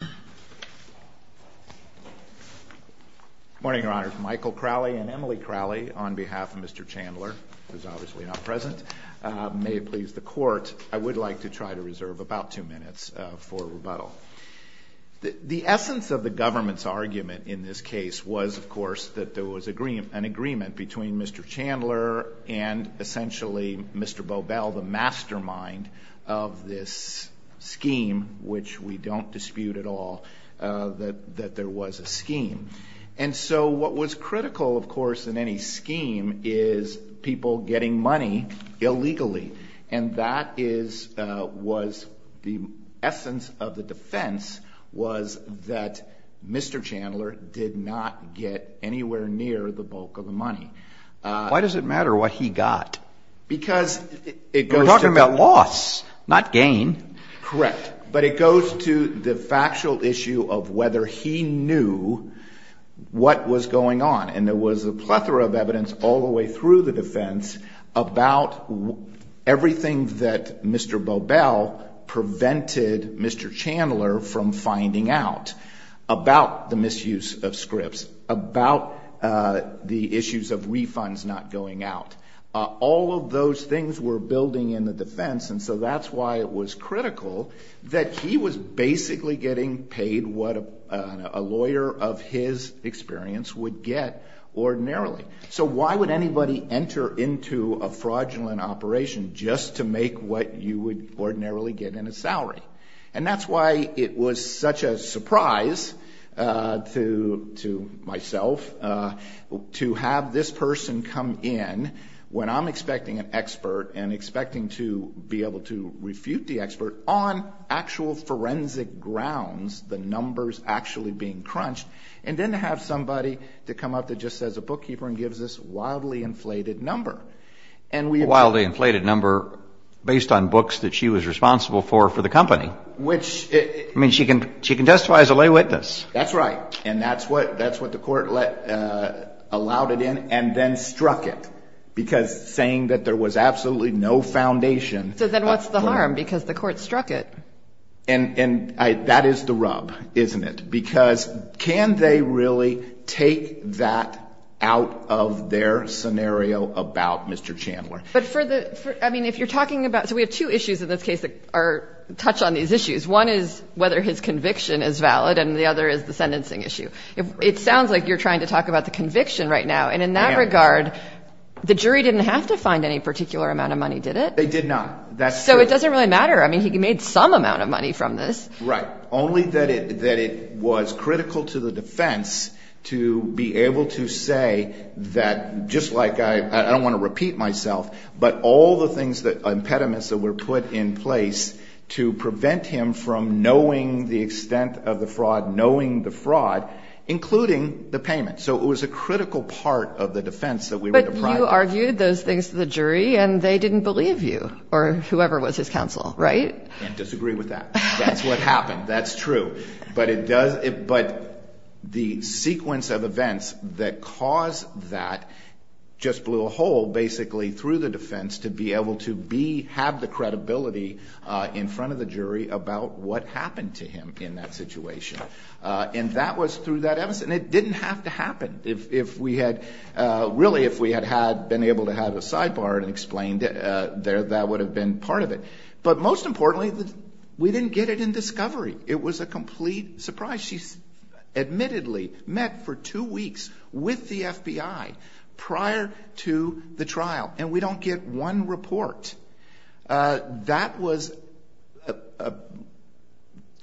Good morning, your honors. Michael Crowley and Emily Crowley, on behalf of Mr. Chandler, who's obviously not present. May it please the court, I would like to try to reserve about two minutes for rebuttal. The essence of the government's argument in this case was, of course, that there was an agreement between Mr. Chandler and essentially Mr. Bobel, the mastermind of this scheme, which we don't dispute at all, that there was a scheme. And so what was critical, of course, in any scheme is people getting money illegally. And that was the essence of the defense, was that Mr. Chandler did not get anywhere near the bulk of the money. Why does it matter what he got? We're talking about loss, not gain. Correct. But it goes to the factual issue of whether he knew what was going on. And there was a plethora of evidence all the way through the defense about everything that Mr. Bobel prevented Mr. Chandler from finding out about the misuse of scripts, about the issues of refunds not going out. All of those things were building in the defense, and so that's why it was critical that he was basically getting paid what a lawyer of his experience would get ordinarily. So why would anybody enter into a fraudulent operation just to make what you would ordinarily get in a salary? And that's why it was such a surprise to myself to have this person come in when I'm expecting an expert and expecting to be able to refute the expert on actual forensic grounds, the numbers actually being crunched, and then to have somebody to come up that just says a bookkeeper and gives this wildly inflated number. A wildly inflated number based on books that she was responsible for for the company. Which... I mean, she can testify as a lay witness. That's right. And that's what the court allowed it in and then struck it, because saying that there was absolutely no foundation... So then what's the harm? Because the court struck it. And that is the rub, isn't it? Because can they really take that out of their scenario about Mr. Chandler? But for the... I mean, if you're talking about... So we have two issues in this case that touch on these issues. One is whether his conviction is valid, and the other is the sentencing issue. It sounds like you're trying to talk about the conviction right now, and in that regard, the jury didn't have to find any particular amount of money, did it? They did not. That's true. I mean, he made some amount of money from this. Right. Only that it was critical to the defense to be able to say that, just like I... I don't want to repeat myself, but all the things, the impediments that were put in place to prevent him from knowing the extent of the fraud, knowing the fraud, including the payment. So it was a critical part of the defense that we were deprived of. You argued those things to the jury, and they didn't believe you, or whoever was his counsel, right? I disagree with that. That's what happened. That's true. But it does... But the sequence of events that caused that just blew a hole, basically, through the defense, to be able to have the credibility in front of the jury about what happened to him in that situation. And that was through that evidence, and it didn't have to happen. If we had... Really, if we had been able to have a sidebar and explained, that would have been part of it. But most importantly, we didn't get it in discovery. It was a complete surprise. She admittedly met for two weeks with the FBI prior to the trial, and we don't get one report. That was...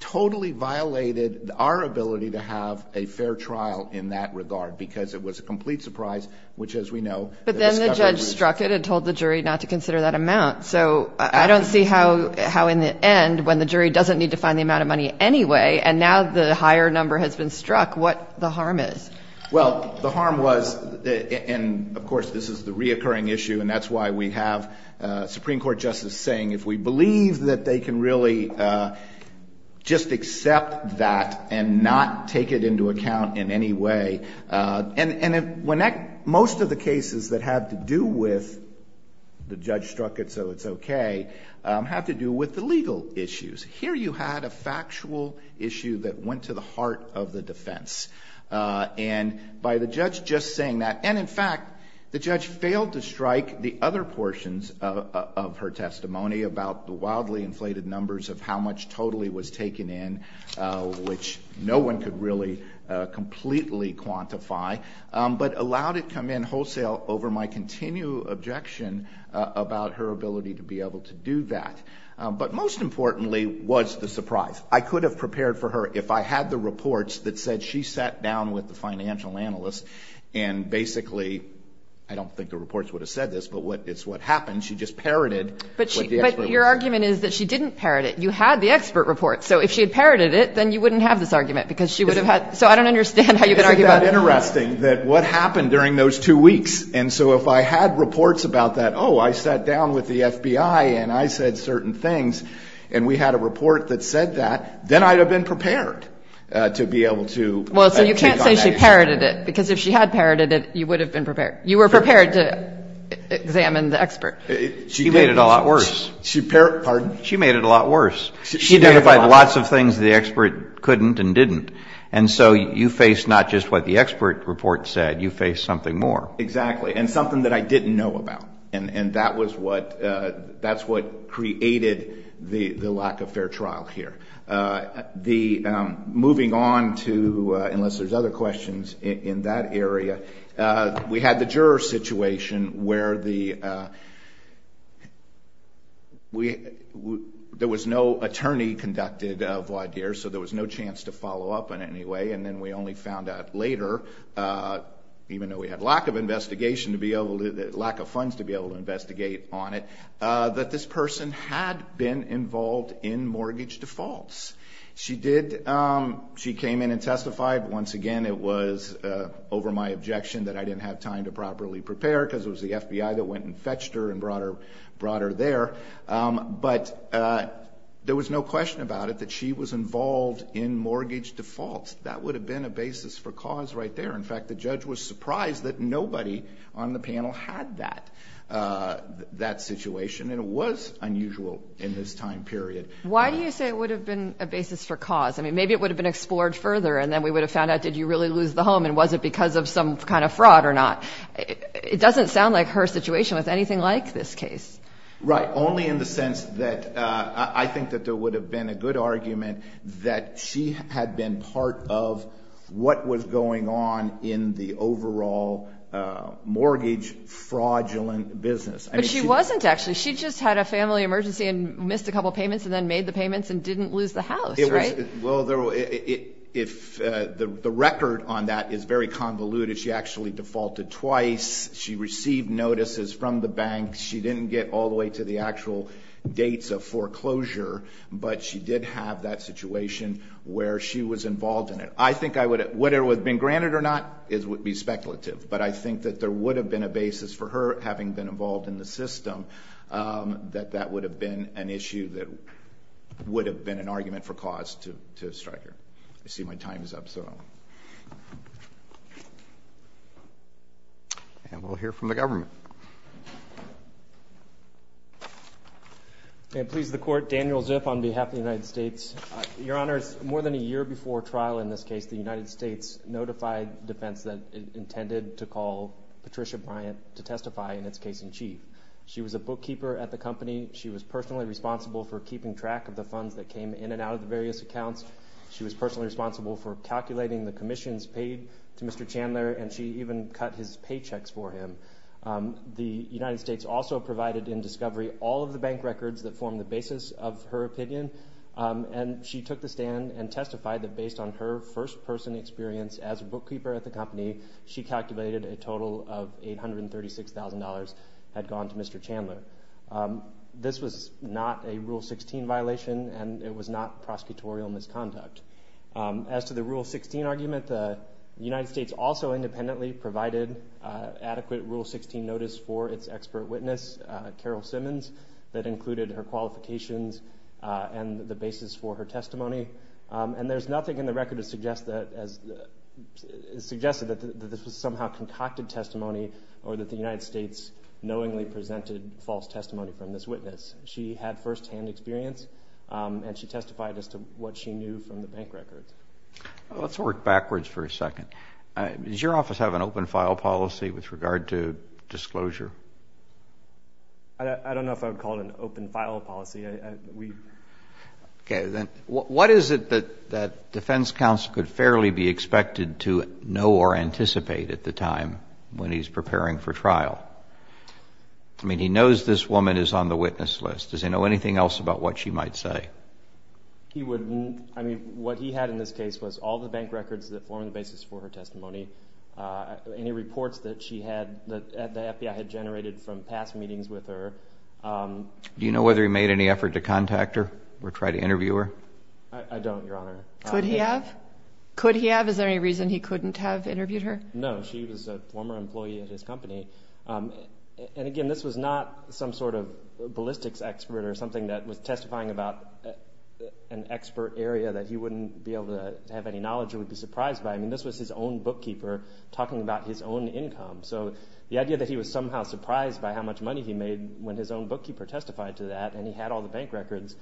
Totally violated our ability to have a fair trial in that regard, because it was a complete surprise, which, as we know... But then the judge struck it and told the jury not to consider that amount. So I don't see how in the end, when the jury doesn't need to find the amount of money anyway, and now the higher number has been struck, what the harm is. Well, the harm was... And, of course, this is the reoccurring issue, and that's why we have Supreme Court justices saying, if we believe that they can really just accept that and not take it into account in any way... And most of the cases that have to do with the judge struck it so it's okay have to do with the legal issues. Here you had a factual issue that went to the heart of the defense. And by the judge just saying that... And, in fact, the judge failed to strike the other portions of her testimony about the wildly inflated numbers of how much totally was taken in, which no one could really completely quantify, but allowed it to come in wholesale over my continued objection about her ability to be able to do that. But most importantly was the surprise. I could have prepared for her if I had the reports that said she sat down with the financial analyst and basically, I don't think the reports would have said this, but it's what happened. She just parroted what the expert reported. But your argument is that she didn't parrot it. You had the expert report. So if she had parroted it, then you wouldn't have this argument because she would have had... So I don't understand how you could argue about that. Isn't that interesting that what happened during those two weeks? And so if I had reports about that, oh, I sat down with the FBI and I said certain things, and we had a report that said that, then I would have been prepared to be able to take on that issue. Well, so you can't say she parroted it because if she had parroted it, you would have been prepared. You were prepared to examine the expert. She did. She made it a lot worse. She parroted it. Pardon? She made it a lot worse. She did lots of things the expert couldn't and didn't. And so you faced not just what the expert report said. You faced something more. Exactly. And something that I didn't know about. And that's what created the lack of fair trial here. Moving on to, unless there's other questions in that area, we had the juror situation where there was no attorney conducted, so there was no chance to follow up in any way, and then we only found out later, even though we had lack of investigation to be able to, lack of funds to be able to investigate on it, that this person had been involved in mortgage defaults. She did. She came in and testified. Once again, it was over my objection that I didn't have time to properly prepare because it was the FBI that went and fetched her and brought her there. But there was no question about it that she was involved in mortgage defaults. That would have been a basis for cause right there. In fact, the judge was surprised that nobody on the panel had that situation, and it was unusual in this time period. Why do you say it would have been a basis for cause? I mean, maybe it would have been explored further, and then we would have found out did you really lose the home and was it because of some kind of fraud or not. It doesn't sound like her situation was anything like this case. Right. Only in the sense that I think that there would have been a good argument that she had been part of what was going on in the overall mortgage fraudulent business. But she wasn't, actually. She just had a family emergency and missed a couple payments and then made the payments and didn't lose the house, right? Well, the record on that is very convoluted. She actually defaulted twice. She received notices from the bank. She didn't get all the way to the actual dates of foreclosure, but she did have that situation where she was involved in it. I think I would have, whether it would have been granted or not, it would be speculative. But I think that there would have been a basis for her having been involved in the system that that would have been an issue that would have been an argument for cause to strike her. I see my time is up, so. And we'll hear from the government. May it please the Court, Daniel Zip on behalf of the United States. Your Honors, more than a year before trial in this case, the United States notified defense that it intended to call Patricia Bryant to testify in its case in chief. She was a bookkeeper at the company. She was personally responsible for keeping track of the funds that came in and out of the various accounts. She was personally responsible for calculating the commissions paid to Mr. Chandler, and she even cut his paychecks for him. The United States also provided in discovery all of the bank records that form the basis of her opinion, and she took the stand and testified that based on her first-person experience as a bookkeeper at the company, she calculated a total of $836,000 had gone to Mr. Chandler. This was not a Rule 16 violation, and it was not prosecutorial misconduct. As to the Rule 16 argument, the United States also independently provided adequate Rule 16 notice for its expert witness, Carol Simmons, that included her qualifications and the basis for her testimony. And there's nothing in the record that suggests that this was somehow concocted testimony or that the United States knowingly presented false testimony from this witness. She had firsthand experience, and she testified as to what she knew from the bank records. Let's work backwards for a second. Does your office have an open file policy with regard to disclosure? I don't know if I would call it an open file policy. Okay. Then what is it that defense counsel could fairly be expected to know or anticipate at the time when he's preparing for trial? I mean, he knows this woman is on the witness list. Does he know anything else about what she might say? He wouldn't. I mean, what he had in this case was all the bank records that form the basis for her testimony, any reports that she had that the FBI had generated from past meetings with her. Do you know whether he made any effort to contact her or try to interview her? I don't, Your Honor. Could he have? Could he have? Is there any reason he couldn't have interviewed her? No. She was a former employee at his company. And, again, this was not some sort of ballistics expert or something that was testifying about an expert area that he wouldn't be able to have any knowledge or would be surprised by. I mean, this was his own bookkeeper talking about his own income. So the idea that he was somehow surprised by how much money he made when his own bookkeeper testified to that and he had all the bank records,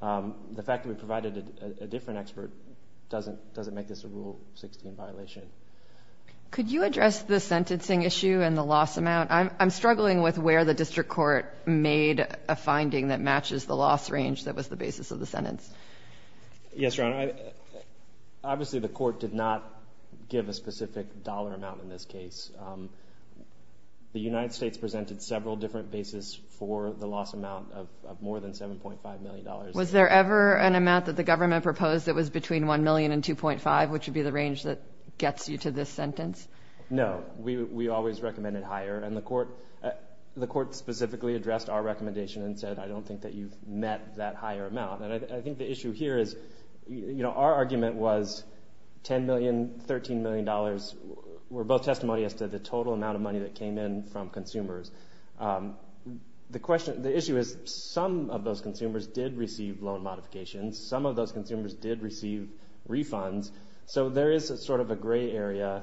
the fact that we provided a different expert doesn't make this a Rule 16 violation. Could you address the sentencing issue and the loss amount? I'm struggling with where the district court made a finding that matches the loss range that was the basis of the sentence. Yes, Your Honor. Obviously, the court did not give a specific dollar amount in this case. The United States presented several different bases for the loss amount of more than $7.5 million. Was there ever an amount that the government proposed that was between $1 million and $2.5 million, which would be the range that gets you to this sentence? No. We always recommended higher, and the court specifically addressed our recommendation and said, I don't think that you've met that higher amount. And I think the issue here is, you know, our argument was $10 million, $13 million were both testimonies as to the total amount of money that came in from consumers. The issue is some of those consumers did receive loan modifications. Some of those consumers did receive refunds. So there is sort of a gray area.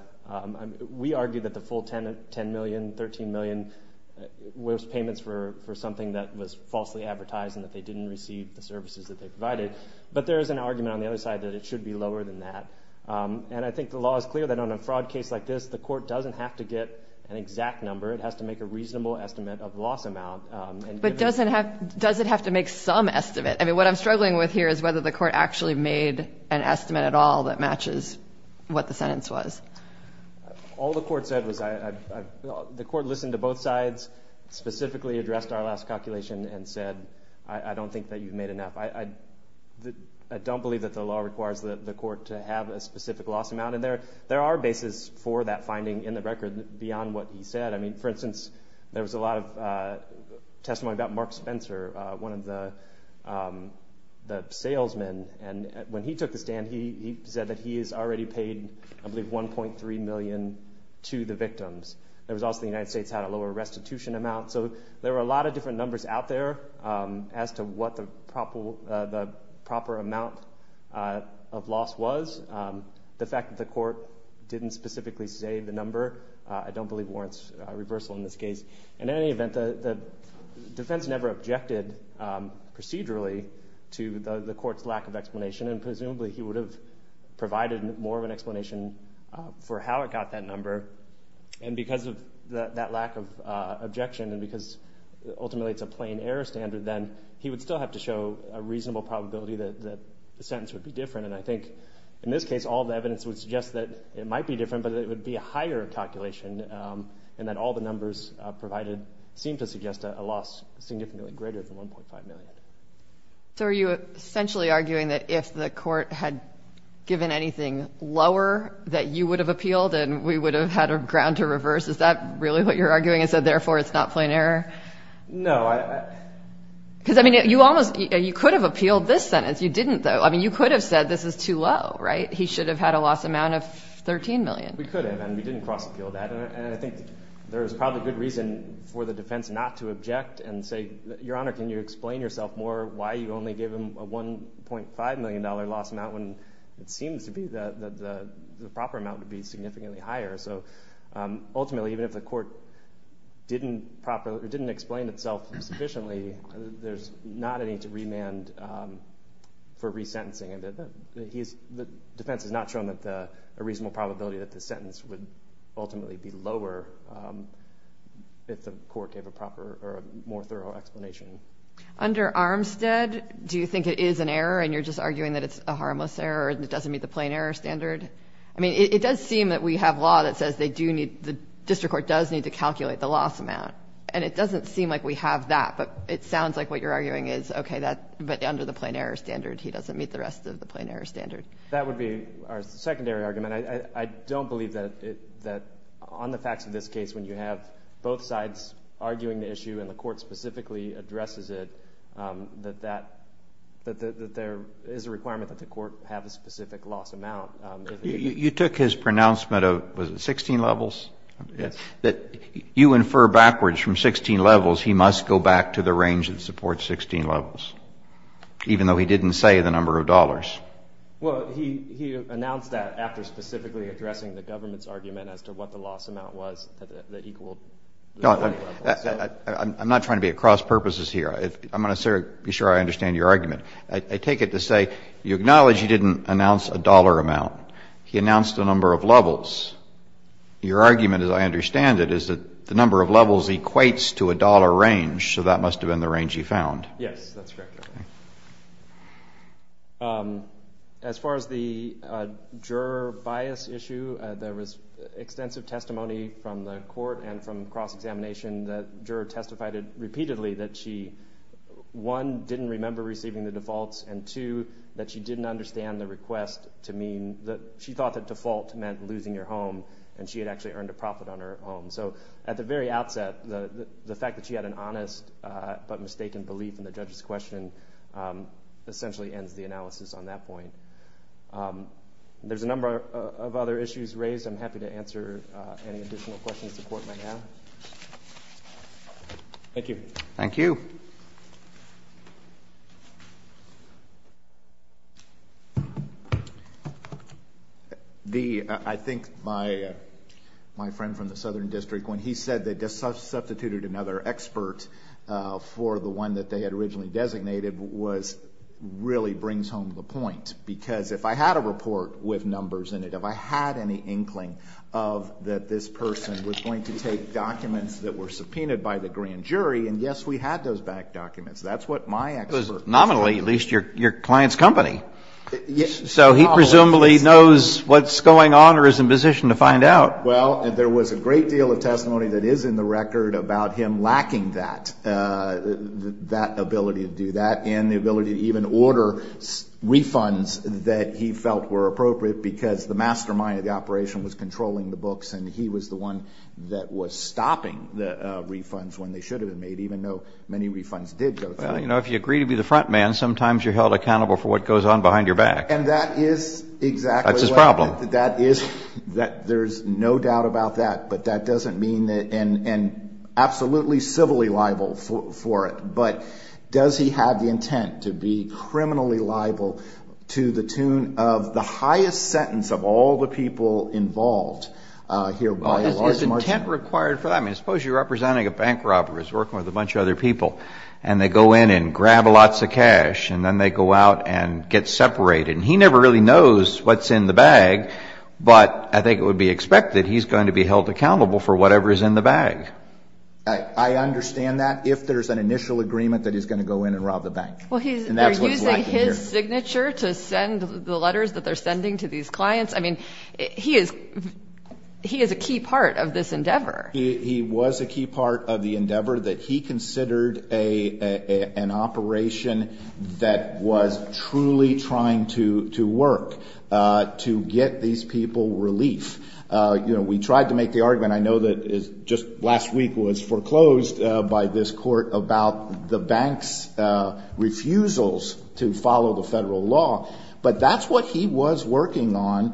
We argue that the full $10 million, $13 million was payments for something that was falsely advertised and that they didn't receive the services that they provided. But there is an argument on the other side that it should be lower than that. And I think the law is clear that on a fraud case like this, the court doesn't have to get an exact number. It has to make a reasonable estimate of the loss amount. But does it have to make some estimate? I mean, what I'm struggling with here is whether the court actually made an estimate at all that matches what the sentence was. All the court said was the court listened to both sides, specifically addressed our last calculation and said, I don't think that you've made enough. I don't believe that the law requires the court to have a specific loss amount. And there are bases for that finding in the record beyond what he said. I mean, for instance, there was a lot of testimony about Mark Spencer, one of the salesmen. And when he took the stand, he said that he has already paid, I believe, $1.3 million to the victims. There was also the United States had a lower restitution amount. So there were a lot of different numbers out there as to what the proper amount of loss was. The fact that the court didn't specifically say the number, I don't believe warrants a reversal in this case. In any event, the defense never objected procedurally to the court's lack of explanation, and presumably he would have provided more of an explanation for how it got that number. And because of that lack of objection and because ultimately it's a plain error standard, then he would still have to show a reasonable probability that the sentence would be different. And I think in this case, all the evidence would suggest that it might be different, but it would be a higher calculation and that all the numbers provided seem to suggest a loss significantly greater than $1.5 million. So are you essentially arguing that if the court had given anything lower that you would have appealed and we would have had a ground to reverse? Is that really what you're arguing and said, therefore, it's not plain error? No. Because, I mean, you could have appealed this sentence. You didn't, though. I mean, you could have said this is too low, right? He should have had a loss amount of $13 million. We could have, and we didn't cross-appeal that. And I think there is probably good reason for the defense not to object and say, Your Honor, can you explain yourself more why you only gave him a $1.5 million loss amount when it seems to be that the proper amount would be significantly higher. So ultimately, even if the court didn't explain itself sufficiently, there's not any to remand for resentencing. The defense has not shown a reasonable probability that the sentence would ultimately be lower if the court gave a more thorough explanation. Under Armstead, do you think it is an error and you're just arguing that it's a harmless error and it doesn't meet the plain error standard? I mean, it does seem that we have law that says the district court does need to calculate the loss amount, and it doesn't seem like we have that, but it sounds like what you're arguing is, okay, but under the plain error standard, he doesn't meet the rest of the plain error standard. That would be our secondary argument. I don't believe that on the facts of this case when you have both sides arguing the issue and the court specifically addresses it, that there is a requirement that the court have a specific loss amount. You took his pronouncement of, was it 16 levels? Yes. That you infer backwards from 16 levels he must go back to the range that supports 16 levels, even though he didn't say the number of dollars. Well, he announced that after specifically addressing the government's argument as to what the loss amount was that equaled the 20 levels. I'm not trying to be at cross-purposes here. I'm going to be sure I understand your argument. I take it to say you acknowledge he didn't announce a dollar amount. He announced the number of levels. Your argument, as I understand it, is that the number of levels equates to a dollar range, so that must have been the range he found. Yes, that's correct. As far as the juror bias issue, there was extensive testimony from the court and from cross-examination that juror testified repeatedly that she, one, didn't remember receiving the defaults, and two, that she didn't understand the request to mean that she thought that default meant losing her home and she had actually earned a profit on her home. So at the very outset, the fact that she had an honest but mistaken belief in the judge's question essentially ends the analysis on that point. There's a number of other issues raised. I'm happy to answer any additional questions the court might have. Thank you. Thank you. I think my friend from the Southern District, when he said they substituted another expert for the one that they had originally designated, was really brings home the point. Because if I had a report with numbers in it, if I had any inkling that this person was going to take documents that were subpoenaed by the grand jury and, yes, we had those back documents. That's what my expert said. It was nominally, at least, your client's company. So he presumably knows what's going on or is in position to find out. Well, there was a great deal of testimony that is in the record about him lacking that, that ability to do that and the ability to even order refunds that he felt were appropriate because the mastermind of the operation was controlling the books and he was the one that was stopping the refunds when they should have been made, even though many refunds did go through. Well, you know, if you agree to be the front man, sometimes you're held accountable for what goes on behind your back. And that is exactly what that is. That's his problem. There's no doubt about that. But that doesn't mean that and absolutely civilly liable for it. But does he have the intent to be criminally liable to the tune of the highest sentence of all the people involved Well, there's intent required for that. I mean, suppose you're representing a bank robber who's working with a bunch of other people and they go in and grab lots of cash and then they go out and get separated. He never really knows what's in the bag, but I think it would be expected he's going to be held accountable for whatever is in the bag. I understand that if there's an initial agreement that he's going to go in and rob the bank. Well, they're using his signature to send the letters that they're sending to these clients. I mean, he is he is a key part of this endeavor. He was a key part of the endeavor that he considered a an operation that was truly trying to to work to get these people relief. You know, we tried to make the argument. I know that is just last week was foreclosed by this court about the bank's refusals to follow the federal law. But that's what he was working on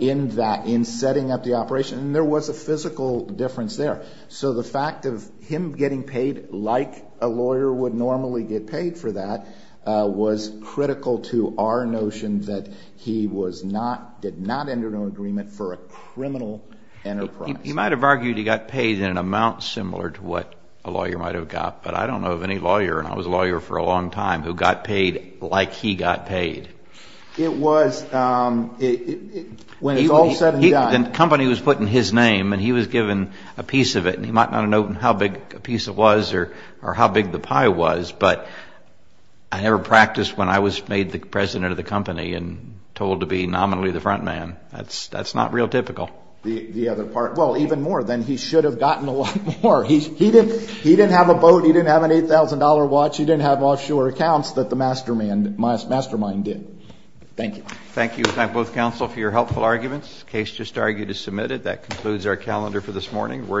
in that in setting up the operation. And there was a physical difference there. So the fact of him getting paid like a lawyer would normally get paid for that was critical to our notion that he was not did not enter an agreement for a criminal enterprise. He might have argued he got paid in an amount similar to what a lawyer might have got. But I don't know of any lawyer. And I was a lawyer for a long time who got paid like he got paid. It was when he was all set. And the company was put in his name and he was given a piece of it. And he might not know how big a piece it was or or how big the pie was. But I never practiced when I was made the president of the company and told to be nominally the front man. That's that's not real typical. The other part. Well, even more than he should have gotten a lot more. He didn't he didn't have a boat. He didn't have an eight thousand dollar watch. He didn't have offshore accounts that the mastermind mastermind did. Thank you. Thank you. Thank both counsel for your helpful arguments. Case just argued is submitted. That concludes our calendar for this morning. We're adjourned.